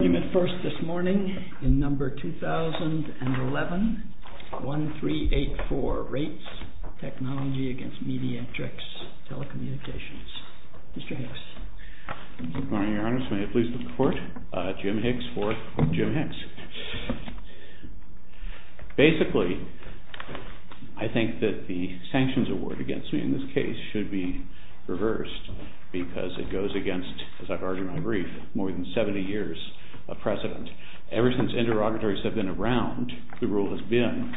Argument first this morning in number 2011-1384, RATES TECH v. MEDIATRIX TELECOM. Mr. Hicks. Good morning, Your Honor. May it please the Court? Jim Hicks for Jim Hicks. Basically, I think that the sanctions award against me in this case should be reversed because it goes against, as I've argued in my brief, more than 70 years of precedent. Ever since interrogatories have been around, the rule has been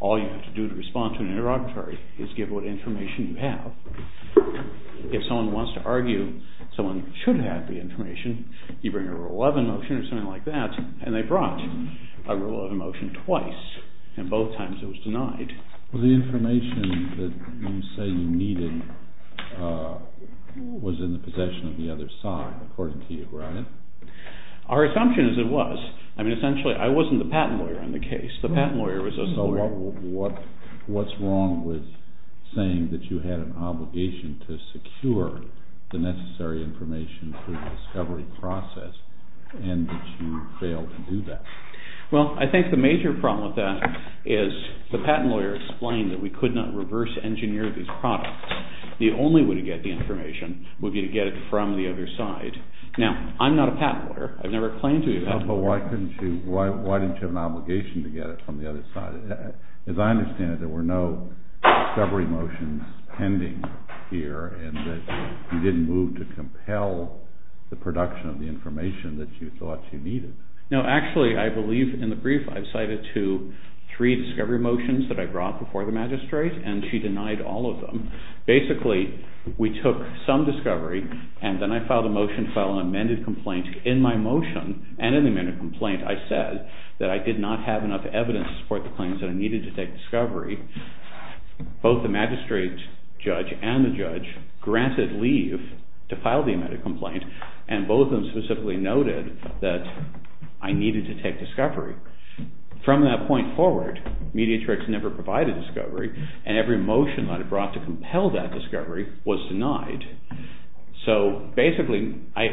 all you have to do to respond to an interrogatory is give what information you have. If someone wants to argue, someone should have the information. You bring a Rule 11 motion or something like that, and they brought a Rule 11 motion twice, and both times it was denied. Well, the information that you say you needed was in the possession of the other side, according to you, right? Our assumption is it was. I mean, essentially, I wasn't the patent lawyer in the case. The patent lawyer was the lawyer. So what's wrong with saying that you had an obligation to secure the necessary information through the discovery process and that you failed to do that? Well, I think the major problem with that is the patent lawyer explained that we could not reverse engineer these products. The only way to get the information would be to get it from the other side. Now, I'm not a patent lawyer. I've never claimed to be a patent lawyer. But why didn't you have an obligation to get it from the other side? As I understand it, there were no discovery motions pending here and that you didn't move to compel the production of the information that you thought you needed. No, actually, I believe in the brief I've cited two, three discovery motions that I brought before the magistrate, and she denied all of them. Basically, we took some discovery, and then I filed a motion to file an amended complaint. In my motion, and in the amended complaint, I said that I did not have enough evidence to support the claims that I needed to take discovery. Both the magistrate judge and the judge granted leave to file the amended complaint, and both of them specifically noted that I needed to take discovery. From that point forward, Mediatrix never provided discovery, and every motion that I brought to compel that discovery was denied. So, basically, I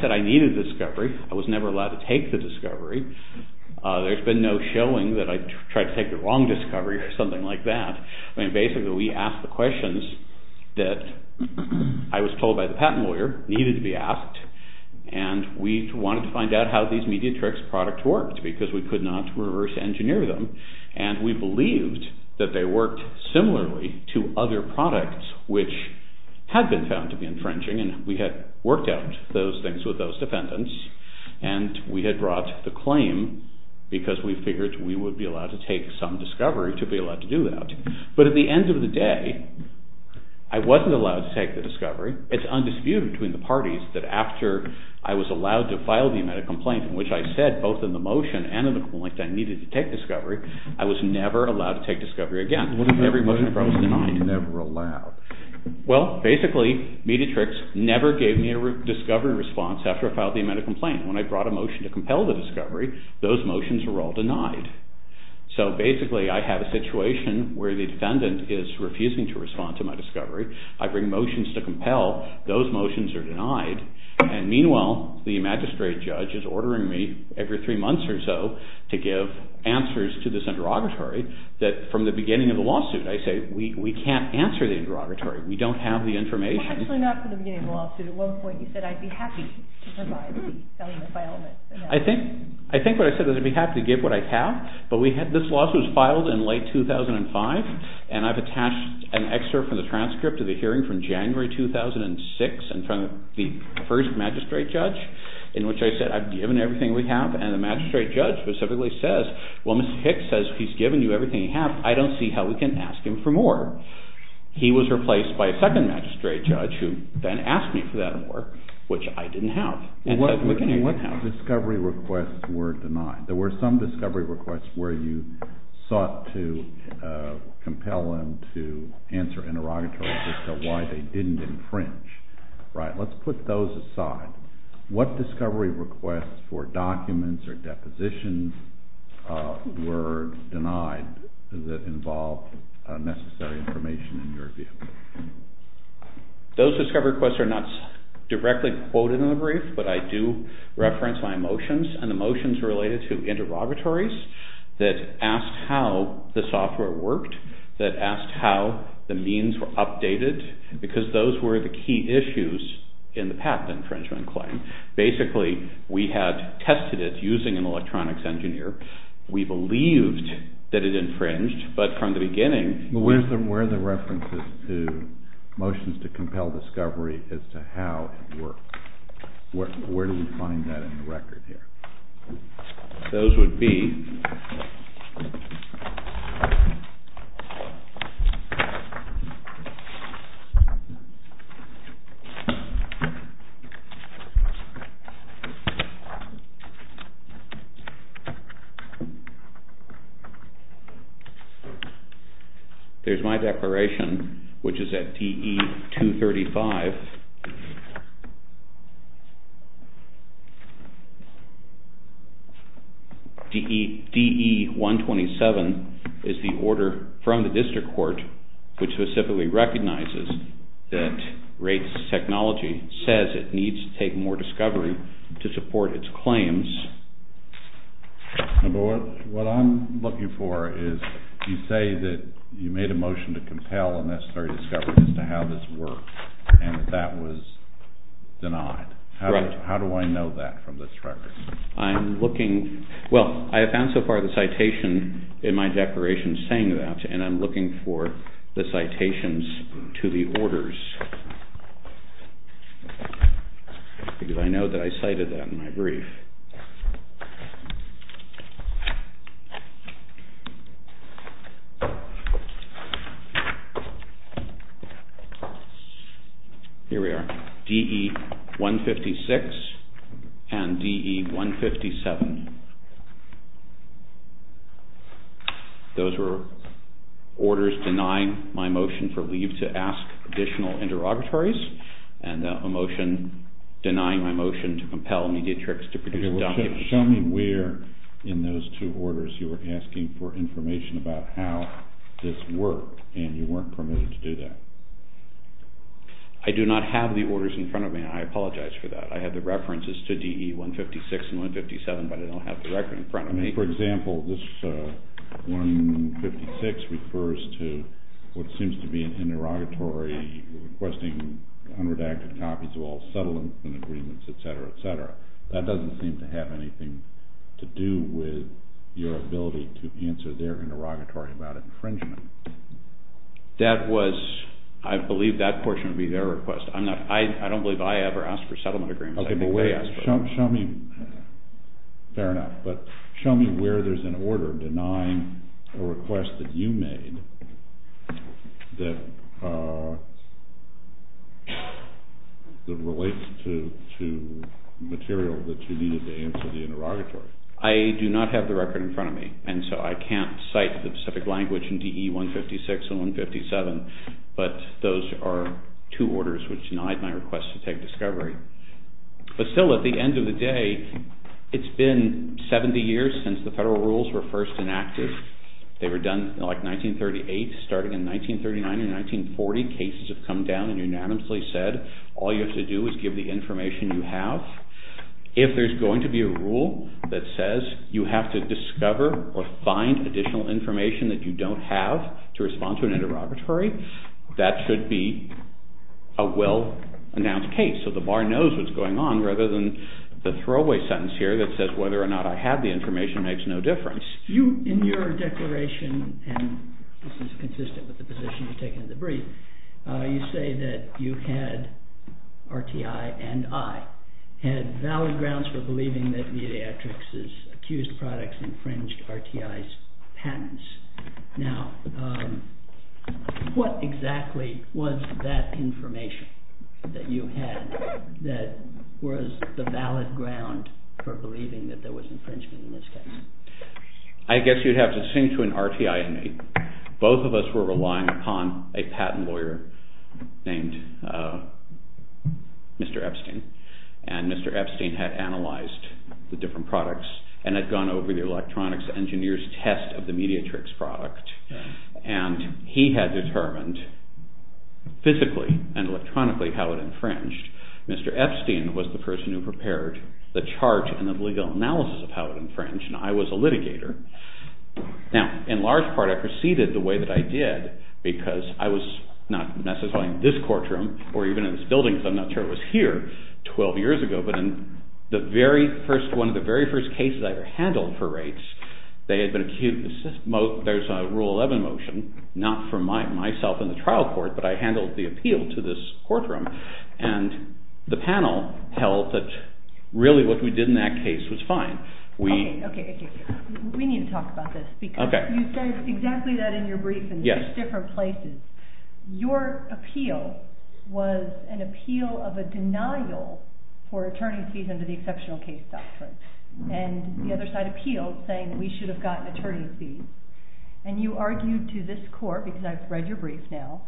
said I needed discovery. I was never allowed to take the discovery. There's been no showing that I tried to take the wrong discovery or something like that. Basically, we asked the questions that I was told by the patent lawyer needed to be asked, and we wanted to find out how these Mediatrix products worked because we could not reverse engineer them. And we believed that they worked similarly to other products which had been found to be infringing, and we had worked out those things with those defendants, and we had brought the claim because we figured we would be allowed to take some discovery to be allowed to do that. But at the end of the day, I wasn't allowed to take the discovery. It's undisputed between the parties that after I was allowed to file the amended complaint in which I said both in the motion and in the complaint that I needed to take discovery, I was never allowed to take discovery again. Every motion that I brought was denied. Well, basically, Mediatrix never gave me a discovery response after I filed the amended complaint. When I brought a motion to compel the discovery, those motions were all denied. So, basically, I had a situation where the defendant is refusing to respond to my discovery. I bring motions to compel. Those motions are denied. And meanwhile, the magistrate judge is ordering me every three months or so to give answers to this interrogatory that from the beginning of the lawsuit, I say we can't answer the interrogatory. We don't have the information. Well, actually, not from the beginning of the lawsuit. At one point, you said I'd be happy to provide. I think what I said was I'd be happy to give what I have, but this lawsuit was filed in late 2005, and I've attached an excerpt from the transcript of the hearing from January 2006 in front of the first magistrate judge in which I said I've given everything we have, and the magistrate judge specifically says, well, Mr. Hicks says he's given you everything he has. I don't see how we can ask him for more. He was replaced by a second magistrate judge who then asked me for that more, which I didn't have. What discovery requests were denied? There were some discovery requests where you sought to compel them to answer interrogatory as to why they didn't infringe. Let's put those aside. What discovery requests for documents or depositions were denied that involved necessary information in your view? Those discovery requests are not directly quoted in the brief, but I do reference my motions, and the motions are related to interrogatories that asked how the software worked, that asked how the means were updated, because those were the key issues in the patent infringement claim. Basically, we had tested it using an electronics engineer. We believed that it infringed, but from the beginning... Where are the references to motions to compel discovery as to how it worked? Where do we find that in the record here? Those would be... Here's my declaration, which is at DE-235. DE-127 is the order from the district court which specifically recognizes that Rates Technology says it needs to take more discovery to support its claims. What I'm looking for is... You say that you made a motion to compel a necessary discovery as to how this worked, and that that was denied. How do I know that from this record? I'm looking... Well, I have found so far the citation in my declaration saying that, and I'm looking for the citations to the orders. Because I know that I cited that in my brief. Here we are. DE-156 and DE-157. Those were orders denying my motion for leave to ask additional interrogatories, and a motion denying my motion to compel Mediatrix to produce a document. Show me where in those two orders you were asking for information about how this worked, and you weren't permitted to do that. I do not have the orders in front of me, and I apologize for that. I have the references to DE-156 and 157, but I don't have the record in front of me. For example, this 156 refers to what seems to be an interrogatory requesting unredacted copies of all settlement agreements, etc., etc. That doesn't seem to have anything to do with your ability to answer their interrogatory about infringement. That was... I believe that portion would be their request. I don't believe I ever asked for settlement agreements. Okay, well, wait. Show me... fair enough, but show me where there's an order denying a request that you made that relates to material that you needed to answer the interrogatory. I do not have the record in front of me, and so I can't cite the specific language in DE-156 and 157, but those are two orders which denied my request to take discovery. But still, at the end of the day, it's been 70 years since the federal rules were first enacted. They were done, like, 1938. Starting in 1939 and 1940, cases have come down and unanimously said, all you have to do is give the information you have. If there's going to be a rule that says you have to discover or find additional information that you don't have to respond to an interrogatory, that should be a well-announced case, so the bar knows what's going on rather than the throwaway sentence here that says whether or not I had the information makes no difference. In your declaration, and this is consistent with the position you've taken in the brief, you say that you had, RTI and I, had valid grounds for believing that Mediatrix's accused products infringed RTI's patents. Now, what exactly was that information that you had that was the valid ground for believing that there was infringement in this case? I guess you'd have to sing to an RTI in me. Both of us were relying upon a patent lawyer named Mr. Epstein, and Mr. Epstein had analyzed the different products and had gone over the electronics engineer's test of the Mediatrix product, and he had determined physically and electronically how it infringed. Mr. Epstein was the person who prepared the chart and the legal analysis of how it infringed, and I was a litigator. Now, in large part, I proceeded the way that I did because I was not necessarily in this courtroom or even in this building because I'm not sure it was here 12 years ago, but in one of the very first cases I ever handled for rates, there's a Rule 11 motion, not for myself in the trial court, but I handled the appeal to this courtroom, and the panel held that really what we did in that case was fine. Okay, okay, okay. We need to talk about this because you said exactly that in your brief in six different places. Your appeal was an appeal of a denial for attorney's fees under the Exceptional Case Doctrine, and the other side appealed saying we should have gotten attorney's fees, and you argued to this court, because I've read your brief now,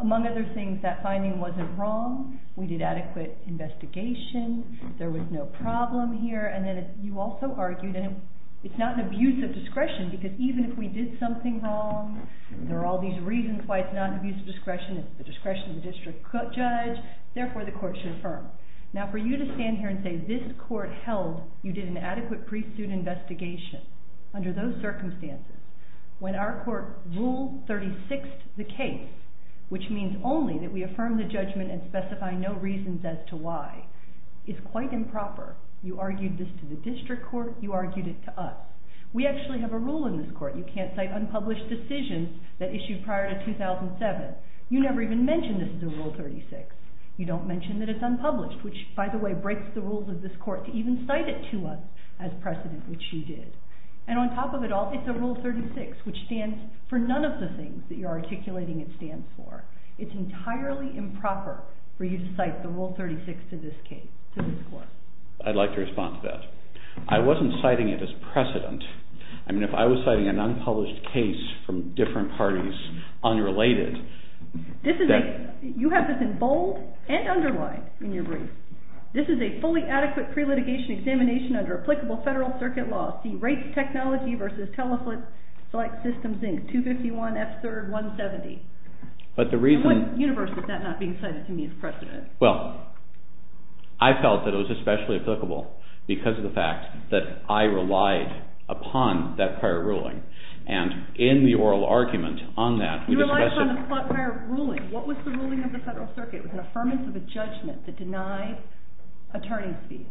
among other things, that finding wasn't wrong, we did adequate investigation, there was no problem here, and then you also argued it's not an abuse of discretion because even if we did something wrong, there are all these reasons why it's not an abuse of discretion, it's the discretion of the district judge, therefore the court should affirm. Now for you to stand here and say this court held you did an adequate pre-suit investigation under those circumstances, when our court Rule 36'd the case, which means only that we affirm the judgment and specify no reasons as to why, is quite improper. You argued this to the district court, you argued it to us. We actually have a rule in this court, you can't cite unpublished decisions that issued prior to 2007. You never even mentioned this is a Rule 36. You don't mention that it's unpublished, which, by the way, breaks the rules of this court to even cite it to us as precedent, which you did. And on top of it all, it's a Rule 36, which stands for none of the things that you're articulating it stands for. It's entirely improper for you to cite the Rule 36 to this case, to this court. I'd like to respond to that. I wasn't citing it as precedent. I mean, if I was citing an unpublished case from different parties, unrelated... This is a... you have this in bold and underlined in your brief. This is a fully adequate pre-litigation examination under applicable federal circuit law. See rates technology versus Teleflip select systems Inc. 251, F-3rd, 170. But the reason... In what universe is that not being cited to me as precedent? Well, I felt that it was especially applicable because of the fact that I relied upon that prior ruling. And in the oral argument on that, we discussed... You relied upon the prior ruling. What was the ruling of the federal circuit? It was an affirmance of a judgment that denied attorney's fees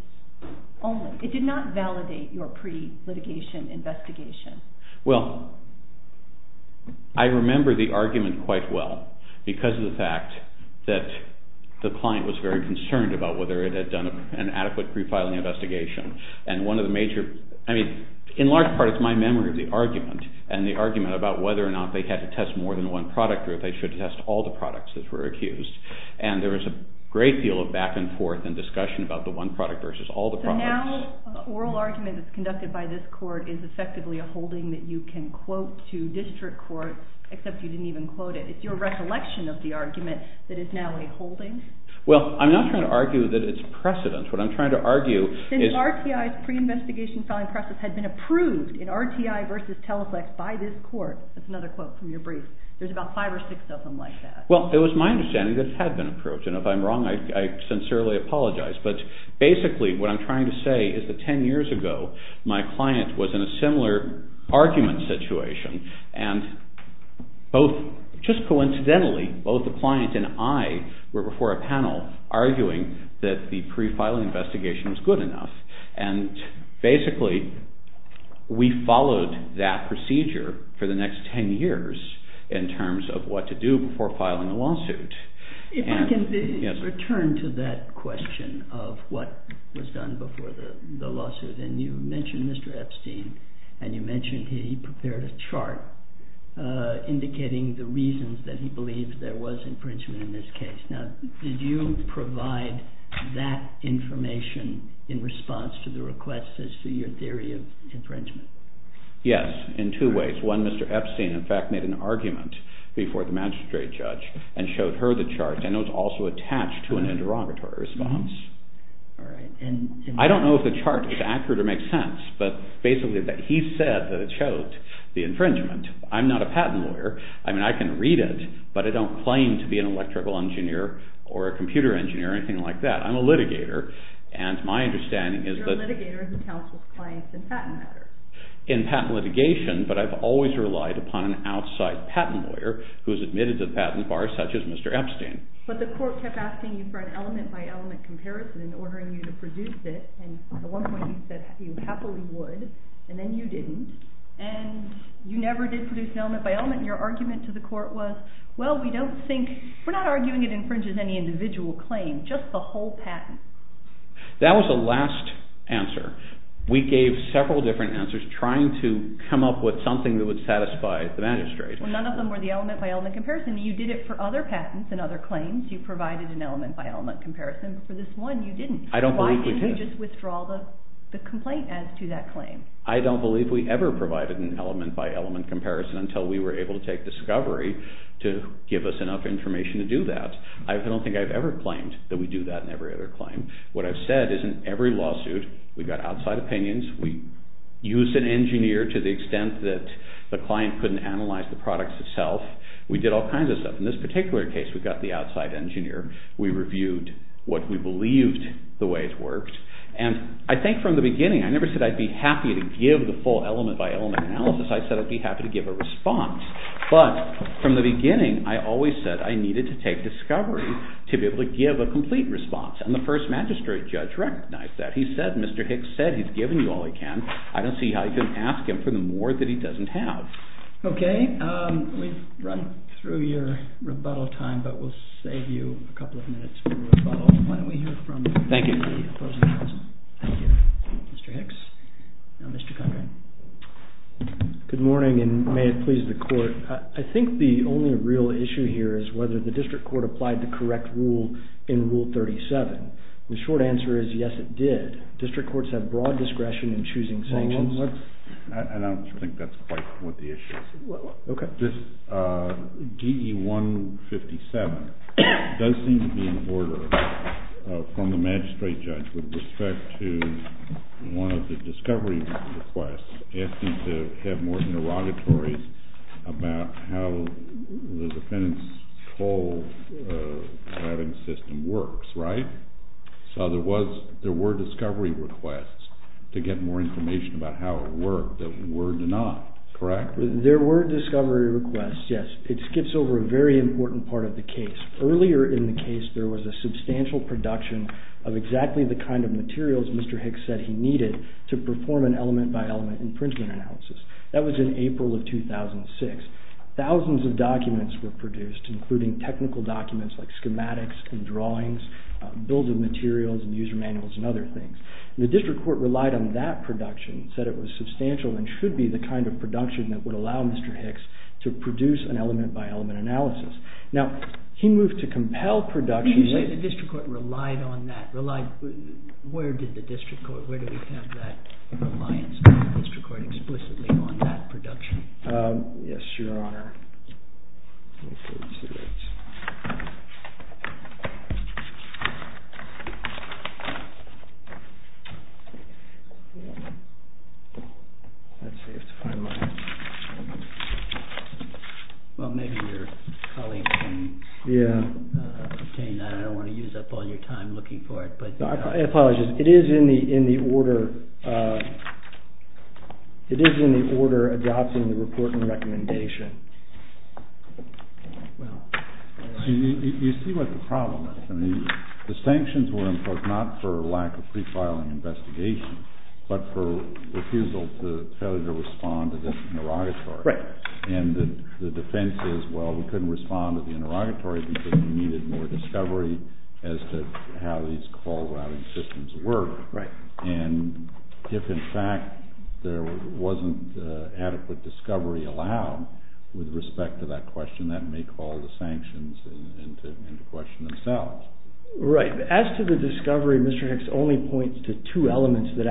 only. It did not validate your pre-litigation investigation. Well, I remember the argument quite well because of the fact that the client was very concerned about whether it had done an adequate pre-filing investigation. And one of the major... I mean, in large part, it's my memory of the argument and the argument about whether or not they had to test more than one product or if they should test all the products that were accused. And there was a great deal of back and forth and discussion about the one product versus all the products. So now the oral argument that's conducted by this court is effectively a holding that you can quote to district court, except you didn't even quote it. It's your recollection of the argument that is now a holding? Well, I'm not trying to argue that it's precedent. What I'm trying to argue is... Since RTI's pre-investigation filing process had been approved in RTI versus Teleflex by this court, that's another quote from your brief. There's about five or six of them like that. Well, it was my understanding that it had been approved. And if I'm wrong, I sincerely apologize. But basically, what I'm trying to say is that 10 years ago, my client was in a similar argument situation. And just coincidentally, both the client and I were before a panel arguing that the pre-filing investigation was good enough. And basically, we followed that procedure for the next 10 years in terms of what to do before filing a lawsuit. If I can return to that question of what was done before the lawsuit. And you mentioned Mr. Epstein, and you mentioned he prepared a chart indicating the reasons that he believed there was infringement in this case. Now, did you provide that information in response to the requests as to your theory of infringement? Yes, in two ways. One, Mr. Epstein, in fact, made an argument before the magistrate judge and showed her the chart. And it was also attached to an interrogatory response. I don't know if the chart is accurate or makes sense, but basically, he said that it showed the infringement. I'm not a patent lawyer. I mean, I can read it, but I don't claim to be an electrical engineer or a computer engineer or anything like that. I'm a litigator, and my understanding is that... You're a litigator who counsels clients in patent matters. In patent litigation, but I've always relied upon an outside patent lawyer who's admitted to the patent bar, such as Mr. Epstein. But the court kept asking you for an element-by-element comparison and ordering you to produce it. And at one point, you said you happily would, and then you didn't. And you never did produce an element-by-element, and your argument to the court was, well, we don't think, we're not arguing it infringes any individual claim, just the whole patent. That was the last answer. We gave several different answers trying to come up with something that would satisfy the magistrate. Well, none of them were the element-by-element comparison. You did it for other patents and other claims. You provided an element-by-element comparison, but for this one, you didn't. I don't believe we did. Why didn't you just withdraw the complaint as to that claim? I don't believe we ever provided an element-by-element comparison until we were able to take discovery to give us enough information to do that. I don't think I've ever claimed that we do that in every other claim. What I've said is in every lawsuit, we got outside opinions. We used an engineer to the extent that the client couldn't analyze the product itself. We did all kinds of stuff. In this particular case, we got the outside engineer. We reviewed what we believed the way it worked. And I think from the beginning, I never said I'd be happy to give the full element-by-element analysis. I said I'd be happy to give a response. But from the beginning, I always said I needed to take discovery to be able to give a complete response. And the first magistrate judge recognized that. He said, Mr. Hicks said he's given you all he can. I don't see how you can ask him for the more that he doesn't have. Okay. We've run through your rebuttal time, but we'll save you a couple of minutes for rebuttal. Why don't we hear from the opposing counsel? Thank you. Thank you. Mr. Hicks. Now Mr. Conrad. Good morning, and may it please the court. I think the only real issue here is whether the district court applied the correct rule in Rule 37. The short answer is yes, it did. District courts have broad discretion in choosing sanctions. I don't think that's quite what the issue is. Okay. This DE-157 does seem to be in order from the magistrate judge with respect to one of the discovery requests, asking to have more interrogatories about how the defendant's toll-grabbing system works, right? So there were discovery requests to get more information about how it worked that were denied, correct? There were discovery requests, yes. It skips over a very important part of the case. Earlier in the case, there was a substantial production of exactly the kind of materials Mr. Hicks said he needed to perform an element-by-element imprinting analysis. That was in April of 2006. Thousands of documents were produced, including technical documents like schematics and drawings, bills of materials and user manuals and other things. The district court relied on that production, said it was substantial and should be the kind of production that would allow Mr. Hicks to produce an element-by-element analysis. Now, he moved to compel production. When you say the district court relied on that, where did the district court, where do we have that reliance on the district court explicitly on that production? Yes, Your Honor. Well, maybe your colleague can obtain that. I don't want to use up all your time looking for it. I apologize. It is in the order adopting the report and recommendation. Well, you see what the problem is. The sanctions were imposed not for lack of pre-filing investigation, but for refusal to respond to the interrogatory. And the defense is, well, we couldn't respond to the interrogatory because we needed more discovery as to how these call routing systems work. And if, in fact, there wasn't adequate discovery allowed with respect to that question, then that may call the sanctions into question themselves. Right. As to the discovery, Mr. Hicks only points to two elements that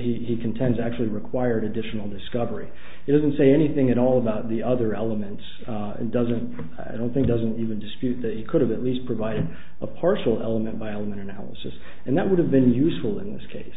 he contends actually required additional discovery. He doesn't say anything at all about the other elements and I don't think doesn't even dispute that he could have at least provided a partial element-by-element analysis, and that would have been useful in this case.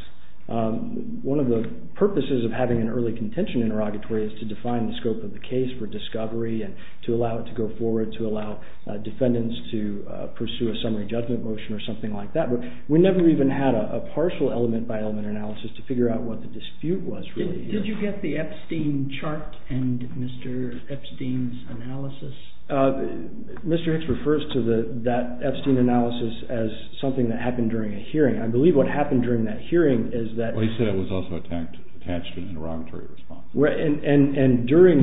One of the purposes of having an early contention interrogatory is to define the scope of the case for discovery and to allow it to go forward, to allow defendants to pursue a summary judgment motion or something like that. But we never even had a partial element-by-element analysis to figure out what the dispute was really. Did you get the Epstein chart and Mr. Epstein's analysis? Mr. Hicks refers to that Epstein analysis as something that happened during a hearing. I believe what happened during that hearing is that— During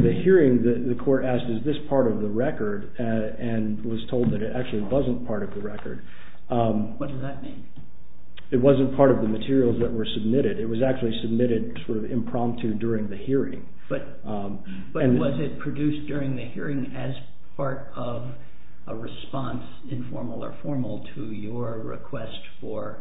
the hearing, the court asked, is this part of the record and was told that it actually wasn't part of the record. What does that mean? It wasn't part of the materials that were submitted. It was actually submitted sort of impromptu during the hearing. But was it produced during the hearing as part of a response, informal or formal, to your request for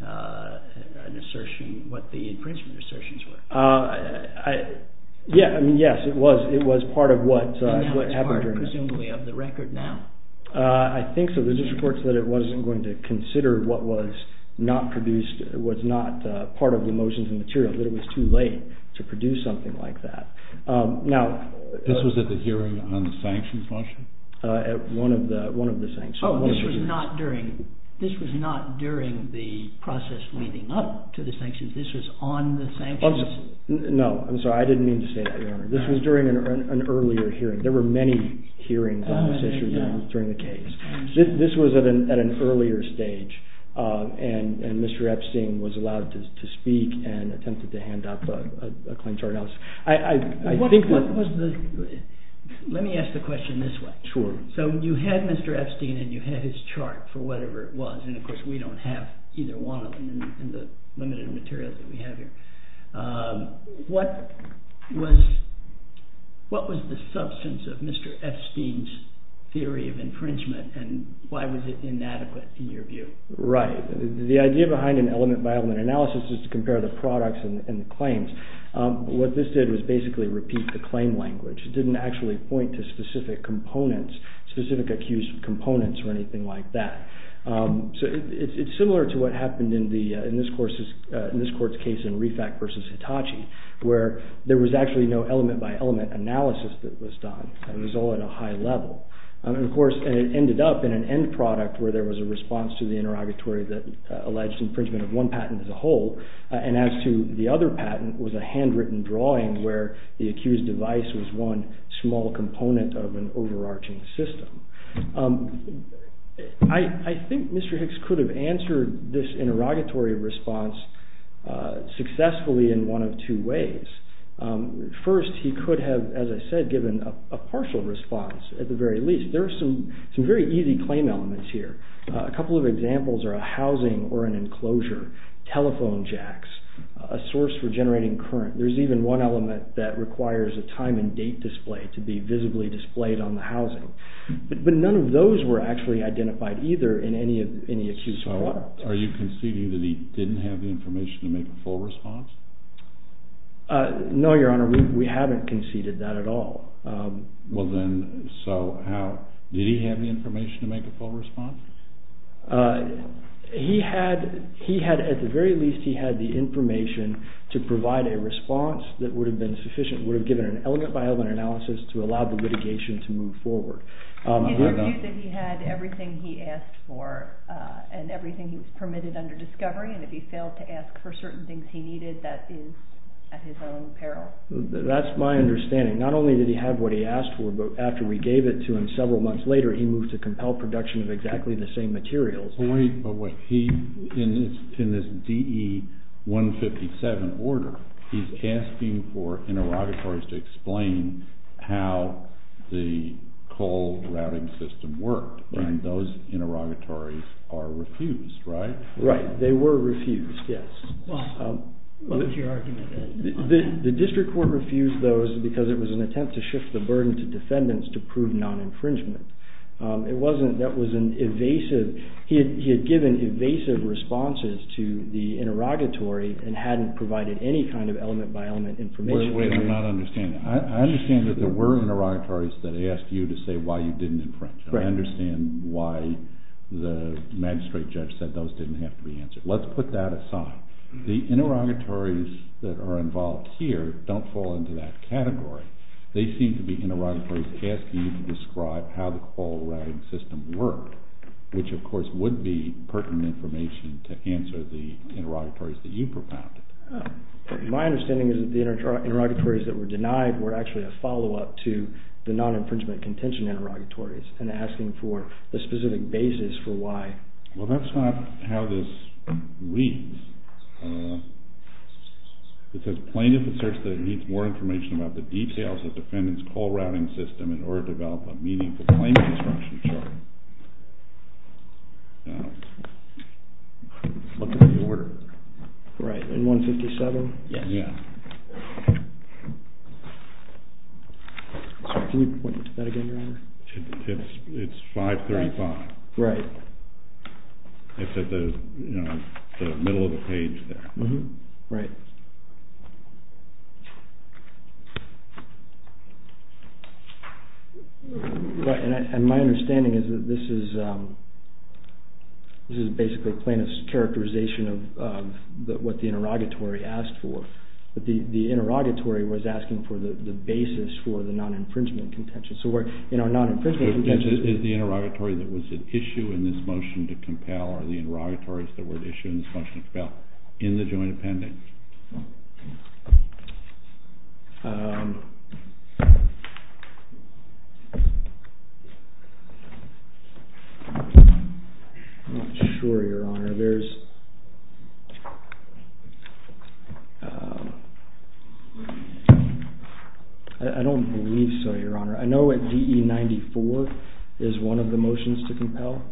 an assertion, what the infringement assertions were? Yes, it was. It was part of what happened during that hearing. And now it's part, presumably, of the record now. I think so. There's just reports that it wasn't going to consider what was not produced, was not part of the motions and materials, that it was too late to produce something like that. This was at the hearing on the sanctions motion? One of the sanctions. Oh, this was not during the process leading up to the sanctions. This was on the sanctions? No, I'm sorry. I didn't mean to say that, Your Honor. This was during an earlier hearing. There were many hearings on this issue during the case. This was at an earlier stage, and Mr. Epstein was allowed to speak and attempted to hand up a claim to our house. I think that— Let me ask the question this way. Sure. So you had Mr. Epstein and you had his chart for whatever it was, and of course we don't have either one of them in the limited materials that we have here. What was the substance of Mr. Epstein's theory of infringement, and why was it inadequate in your view? Right. The idea behind an element-by-element analysis is to compare the products and the claims. What this did was basically repeat the claim language. It didn't actually point to specific components, specific accused components or anything like that. It's similar to what happened in this court's case in Refack v. Hitachi, where there was actually no element-by-element analysis that was done. It was all at a high level. Of course, it ended up in an end product where there was a response to the interrogatory that alleged infringement of one patent as a whole, and as to the other patent was a handwritten drawing where the accused device was one small component of an overarching system. I think Mr. Hicks could have answered this interrogatory response successfully in one of two ways. First, he could have, as I said, given a partial response at the very least. There are some very easy claim elements here. A couple of examples are a housing or an enclosure, telephone jacks, a source for generating current. There's even one element that requires a time and date display to be visibly displayed on the housing. But none of those were actually identified either in any accused product. So are you conceding that he didn't have the information to make a full response? No, Your Honor. We haven't conceded that at all. Well then, so how? Did he have the information to make a full response? He had, at the very least, he had the information to provide a response that would have been sufficient, would have given an element by element analysis to allow the litigation to move forward. He argued that he had everything he asked for and everything he was permitted under discovery, and if he failed to ask for certain things he needed, that is at his own peril. That's my understanding. Not only did he have what he asked for, but after we gave it to him several months later, he moved to compel production of exactly the same materials. But wait, in this DE 157 order, he's asking for interrogatories to explain how the cold routing system worked, and those interrogatories are refused, right? Right. They were refused, yes. What was your argument there? The district court refused those because it was an attempt to shift the burden to defendants to prove non-infringement. It wasn't, that was an evasive, he had given evasive responses to the interrogatory and hadn't provided any kind of element by element information. Wait, wait, I'm not understanding. I understand that there were interrogatories that asked you to say why you didn't infringe. I understand why the magistrate judge said those didn't have to be answered. Let's put that aside. The interrogatories that are involved here don't fall into that category. They seem to be interrogatories asking you to describe how the cold routing system worked, which of course would be pertinent information to answer the interrogatories that you propounded. My understanding is that the interrogatories that were denied were actually a follow-up to the non-infringement contention interrogatories and asking for a specific basis for why. Well, that's not how this reads. It says plaintiff asserts that it needs more information about the details of the defendant's cold routing system in order to develop a meaningful claim construction chart. Look at the order. Right, in 157? Yes. Can you point me to that again, Your Honor? It's 535. Right. It's at the middle of the page there. Right. My understanding is that this is basically plaintiff's characterization of what the interrogatory asked for. The interrogatory was asking for the basis for the non-infringement contention. Is the interrogatory that was at issue in this motion to compel or the interrogatories that were at issue in this motion to compel in the joint appending? I'm not sure, Your Honor. I don't believe so, Your Honor. I know at DE 94 is one of the motions to compel,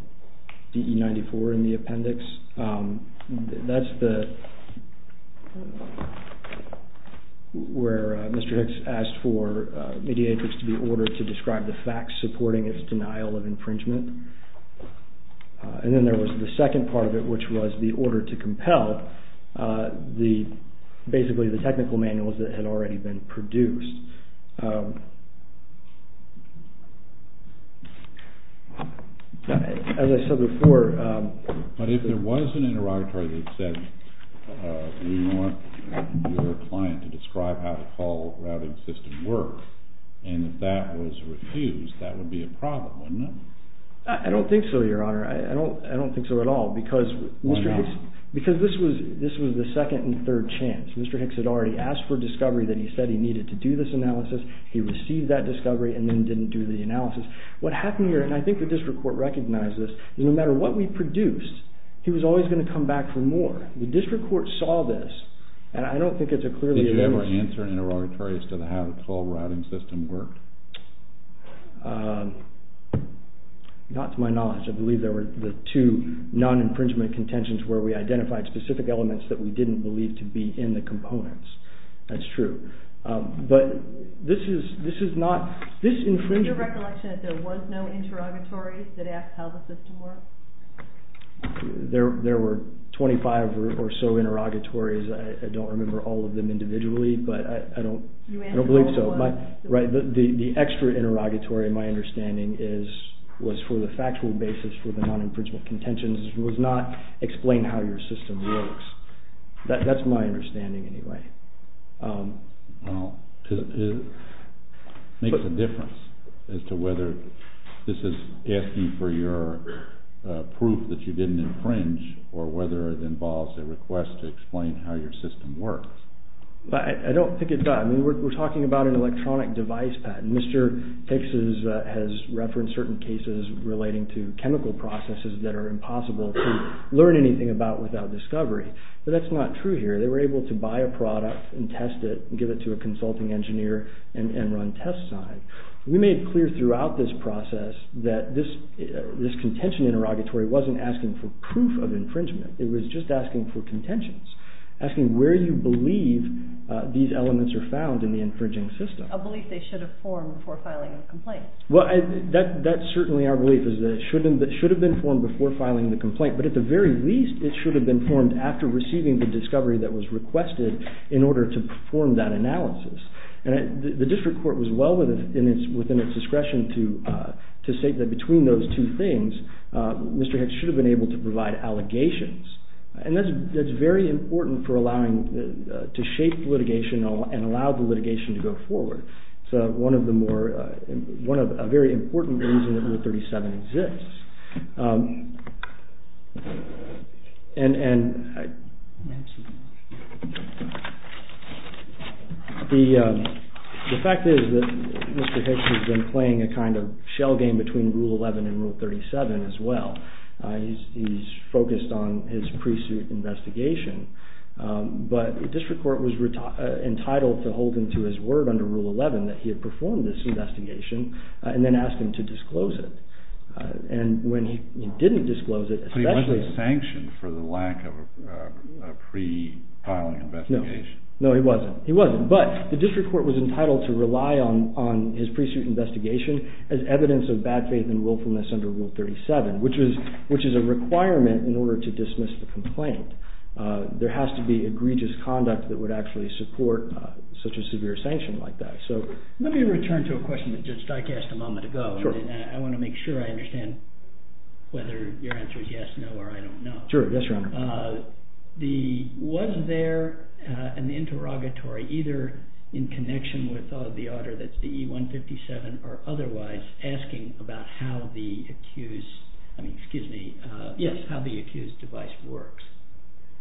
DE 94 in the appendix. That's where Mr. Hicks asked for Mediatrix to be ordered to describe the facts supporting its denial of infringement. And then there was the second part of it, which was the order to compel basically the technical manuals that had already been produced. As I said before... But if there was an interrogatory that said, we want your client to describe how the system works, and if that was refused, that would be a problem, wouldn't it? I don't think so, Your Honor. I don't think so at all. Why not? Because this was the second and third chance. Mr. Hicks had already asked for discovery that he said he needed to do this analysis. He received that discovery and then didn't do the analysis. What happened here, and I think the district court recognized this, is no matter what we produced, he was always going to come back for more. The district court saw this, and I don't think it's a clearly... Did you ever answer interrogatories to how the full routing system worked? Not to my knowledge. I believe there were the two non-infringement contentions where we identified specific elements that we didn't believe to be in the components. That's true. But this is not... Is it your recollection that there was no interrogatory that asked how the system works? There were 25 or so interrogatories. I don't remember all of them individually, but I don't believe so. The extra interrogatory, in my understanding, was for the factual basis for the non-infringement contentions. It was not explain how your system works. That's my understanding, anyway. It makes a difference as to whether this is asking for your proof that you didn't infringe or whether it involves a request to explain how your system works. I don't think it does. I mean, we're talking about an electronic device patent. Mr. Hicks has referenced certain cases relating to chemical processes that are impossible to learn anything about without discovery. But that's not true here. They were able to buy a product and test it and give it to a consulting engineer and run tests on it. We made clear throughout this process that this contention interrogatory wasn't asking for proof of infringement. It was just asking for contentions, asking where you believe these elements are found in the infringing system. A belief they should have formed before filing a complaint. Well, that's certainly our belief, is that it should have been formed before filing the complaint. But at the very least, it should have been formed after receiving the discovery that was requested in order to perform that analysis. And the district court was well within its discretion to state that between those two things, Mr. Hicks should have been able to provide allegations. And that's very important for allowing to shape litigation and allow the litigation to go forward. It's a very important reason that Rule 37 exists. The fact is that Mr. Hicks has been playing a kind of shell game between Rule 11 and Rule 37 as well. He's focused on his pre-suit investigation. But the district court was entitled to hold him to his word under Rule 11 that he had performed this investigation and then asked him to disclose it. And when he didn't disclose it, especially... But he wasn't sanctioned for the lack of a pre-filing investigation. No, he wasn't. He wasn't. But the district court was entitled to rely on his pre-suit investigation as evidence of bad faith and willfulness under Rule 37, which is a requirement in order to dismiss the complaint. There has to be egregious conduct that would actually support such a severe sanction like that. Let me return to a question that Judge Dykast a moment ago. I want to make sure I understand whether your answer is yes, no, or I don't know. Sure. Yes, Your Honor. Was there an interrogatory either in connection with the order that's the E-157 or otherwise asking about how the accused device works?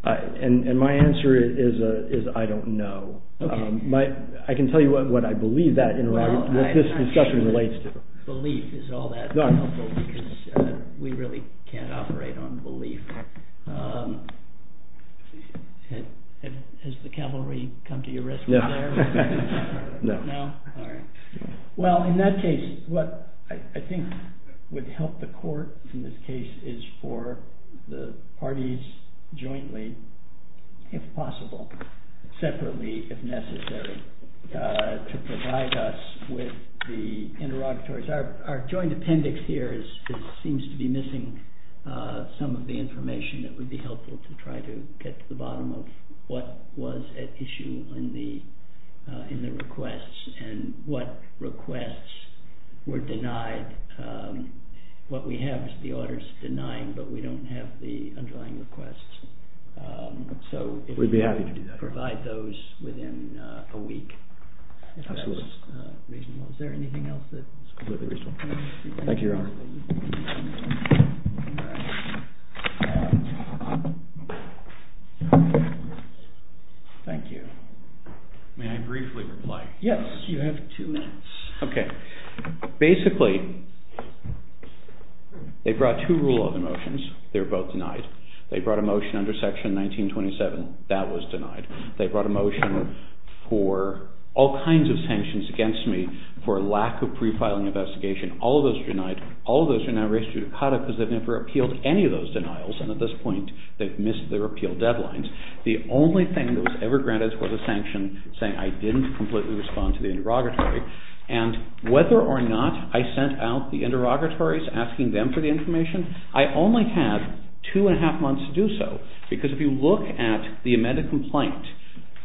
And my answer is I don't know. I can tell you what I believe that interrogation, what this discussion relates to. Belief is all that helpful because we really can't operate on belief. Has the cavalry come to your rescue there? No. No? All right. Well, in that case, what I think would help the court in this case is for the parties jointly, if possible, separately if necessary, to provide us with the interrogatories. Our joint appendix here seems to be missing some of the information that would be helpful to try to get to the bottom of what was at issue in the requests and what requests were denied. What we have is the orders denying, but we don't have the underlying requests. We'd be happy to do that. So if you could provide those within a week, if that's reasonable. Is there anything else that's completely reasonable? Thank you, Your Honor. Thank you. May I briefly reply? Yes, you have two minutes. Okay. Basically, they brought two rule of motions. They were both denied. They brought a motion under section 1927. That was denied. They brought a motion for all kinds of sanctions against me for a lack of pre-filing investigation. All of those are denied. All of those are now reissued to CADA because they've never appealed any of those denials, and at this point they've missed their appeal deadlines. The only thing that was ever granted was a sanction saying I didn't completely respond to the interrogatory. And whether or not I sent out the interrogatories asking them for the information, I only had two and a half months to do so. Because if you look at the amended complaint,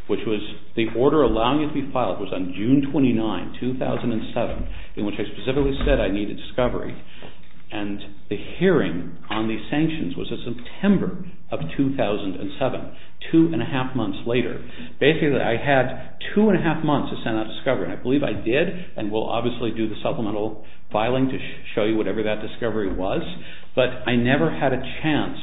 which was the order allowing it to be filed was on June 29, 2007, in which I specifically said I needed discovery. And the hearing on the sanctions was in September of 2007, two and a half months later. Basically, I had two and a half months to send out discovery. And I believe I did, and we'll obviously do the supplemental filing to show you whatever that discovery was. But I never had a chance,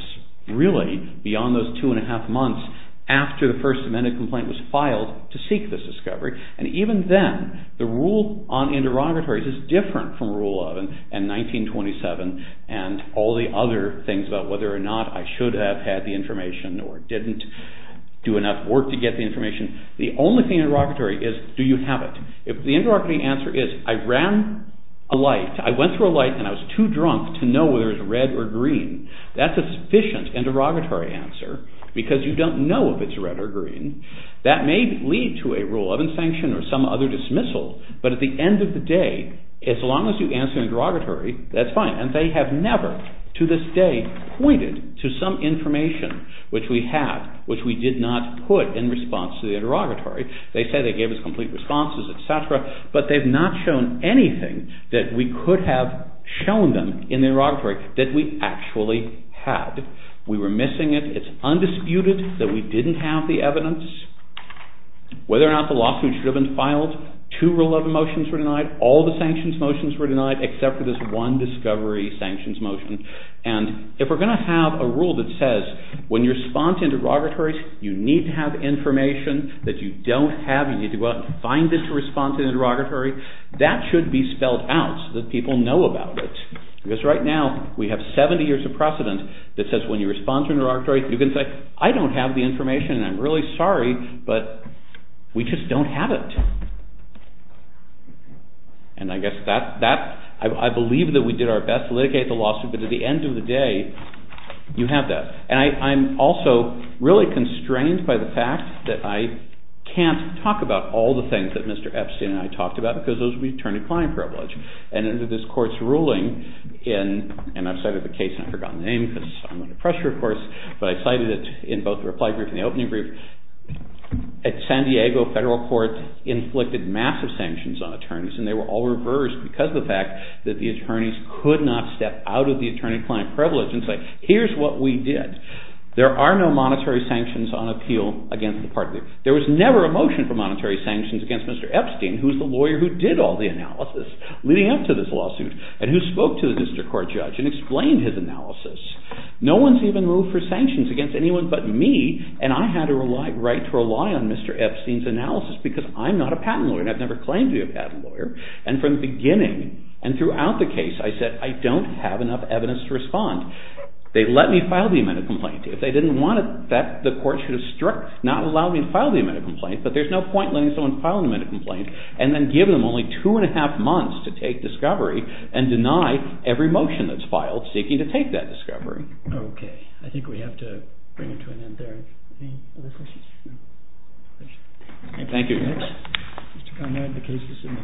really, beyond those two and a half months after the first amended complaint was filed to seek this discovery. And even then, the rule on interrogatories is different from Rule of and 1927 and all the other things about whether or not I should have had the information or didn't do enough work to get the information. The only thing interrogatory is do you have it? If the interrogating answer is I ran a light, I went through a light and I was too drunk to know whether it was red or green, that's a sufficient interrogatory answer because you don't know if it's red or green. That may lead to a Rule of Insanction or some other dismissal, but at the end of the day, as long as you answer interrogatory, that's fine. And they have never, to this day, pointed to some information which we have, which we did not put in response to the interrogatory. They say they gave us complete responses, etc., but they've not shown anything that we could have shown them in the interrogatory that we actually had. We were missing it. It's undisputed that we didn't have the evidence. Whether or not the lawsuit should have been filed, two Rule of Motions were denied. All the sanctions motions were denied except for this one discovery sanctions motion. And if we're going to have a rule that says when you respond to interrogatories, you need to have information that you don't have. You need to go out and find it to respond to the interrogatory, that should be spelled out so that people know about it. Because right now, we have 70 years of precedent that says when you respond to an interrogatory, you can say, I don't have the information and I'm really sorry, but we just don't have it. And I guess that, I believe that we did our best to litigate the lawsuit, but at the end of the day, you have that. And I'm also really constrained by the fact that I can't talk about all the things that Mr. Epstein and I talked about because those would be attorney-client privilege. And under this court's ruling, and I've cited the case and I've forgotten the name because I'm under pressure, of course, but I've cited it in both the reply brief and the opening brief. At San Diego Federal Court, it inflicted massive sanctions on attorneys and they were all reversed because of the fact that the attorneys could not step out of the attorney-client privilege and say, here's what we did. There are no monetary sanctions on appeal against the parties. There was never a motion for monetary sanctions against Mr. Epstein, who's the lawyer who did all the analysis leading up to this lawsuit and who spoke to the district court judge and explained his analysis. No one's even ruled for sanctions against anyone but me and I had a right to rely on Mr. Epstein's analysis because I'm not a patent lawyer and I've never claimed to be a patent lawyer. And from the beginning and throughout the case, I said, I don't have enough evidence to respond. They let me file the amended complaint. If they didn't want it, the court should have not allowed me to file the amended complaint, but there's no point in letting someone file an amended complaint and then give them only two and a half months to take discovery and deny every motion that's filed seeking to take that discovery. Okay. I think we have to bring it to an end there. Any other questions? Thank you.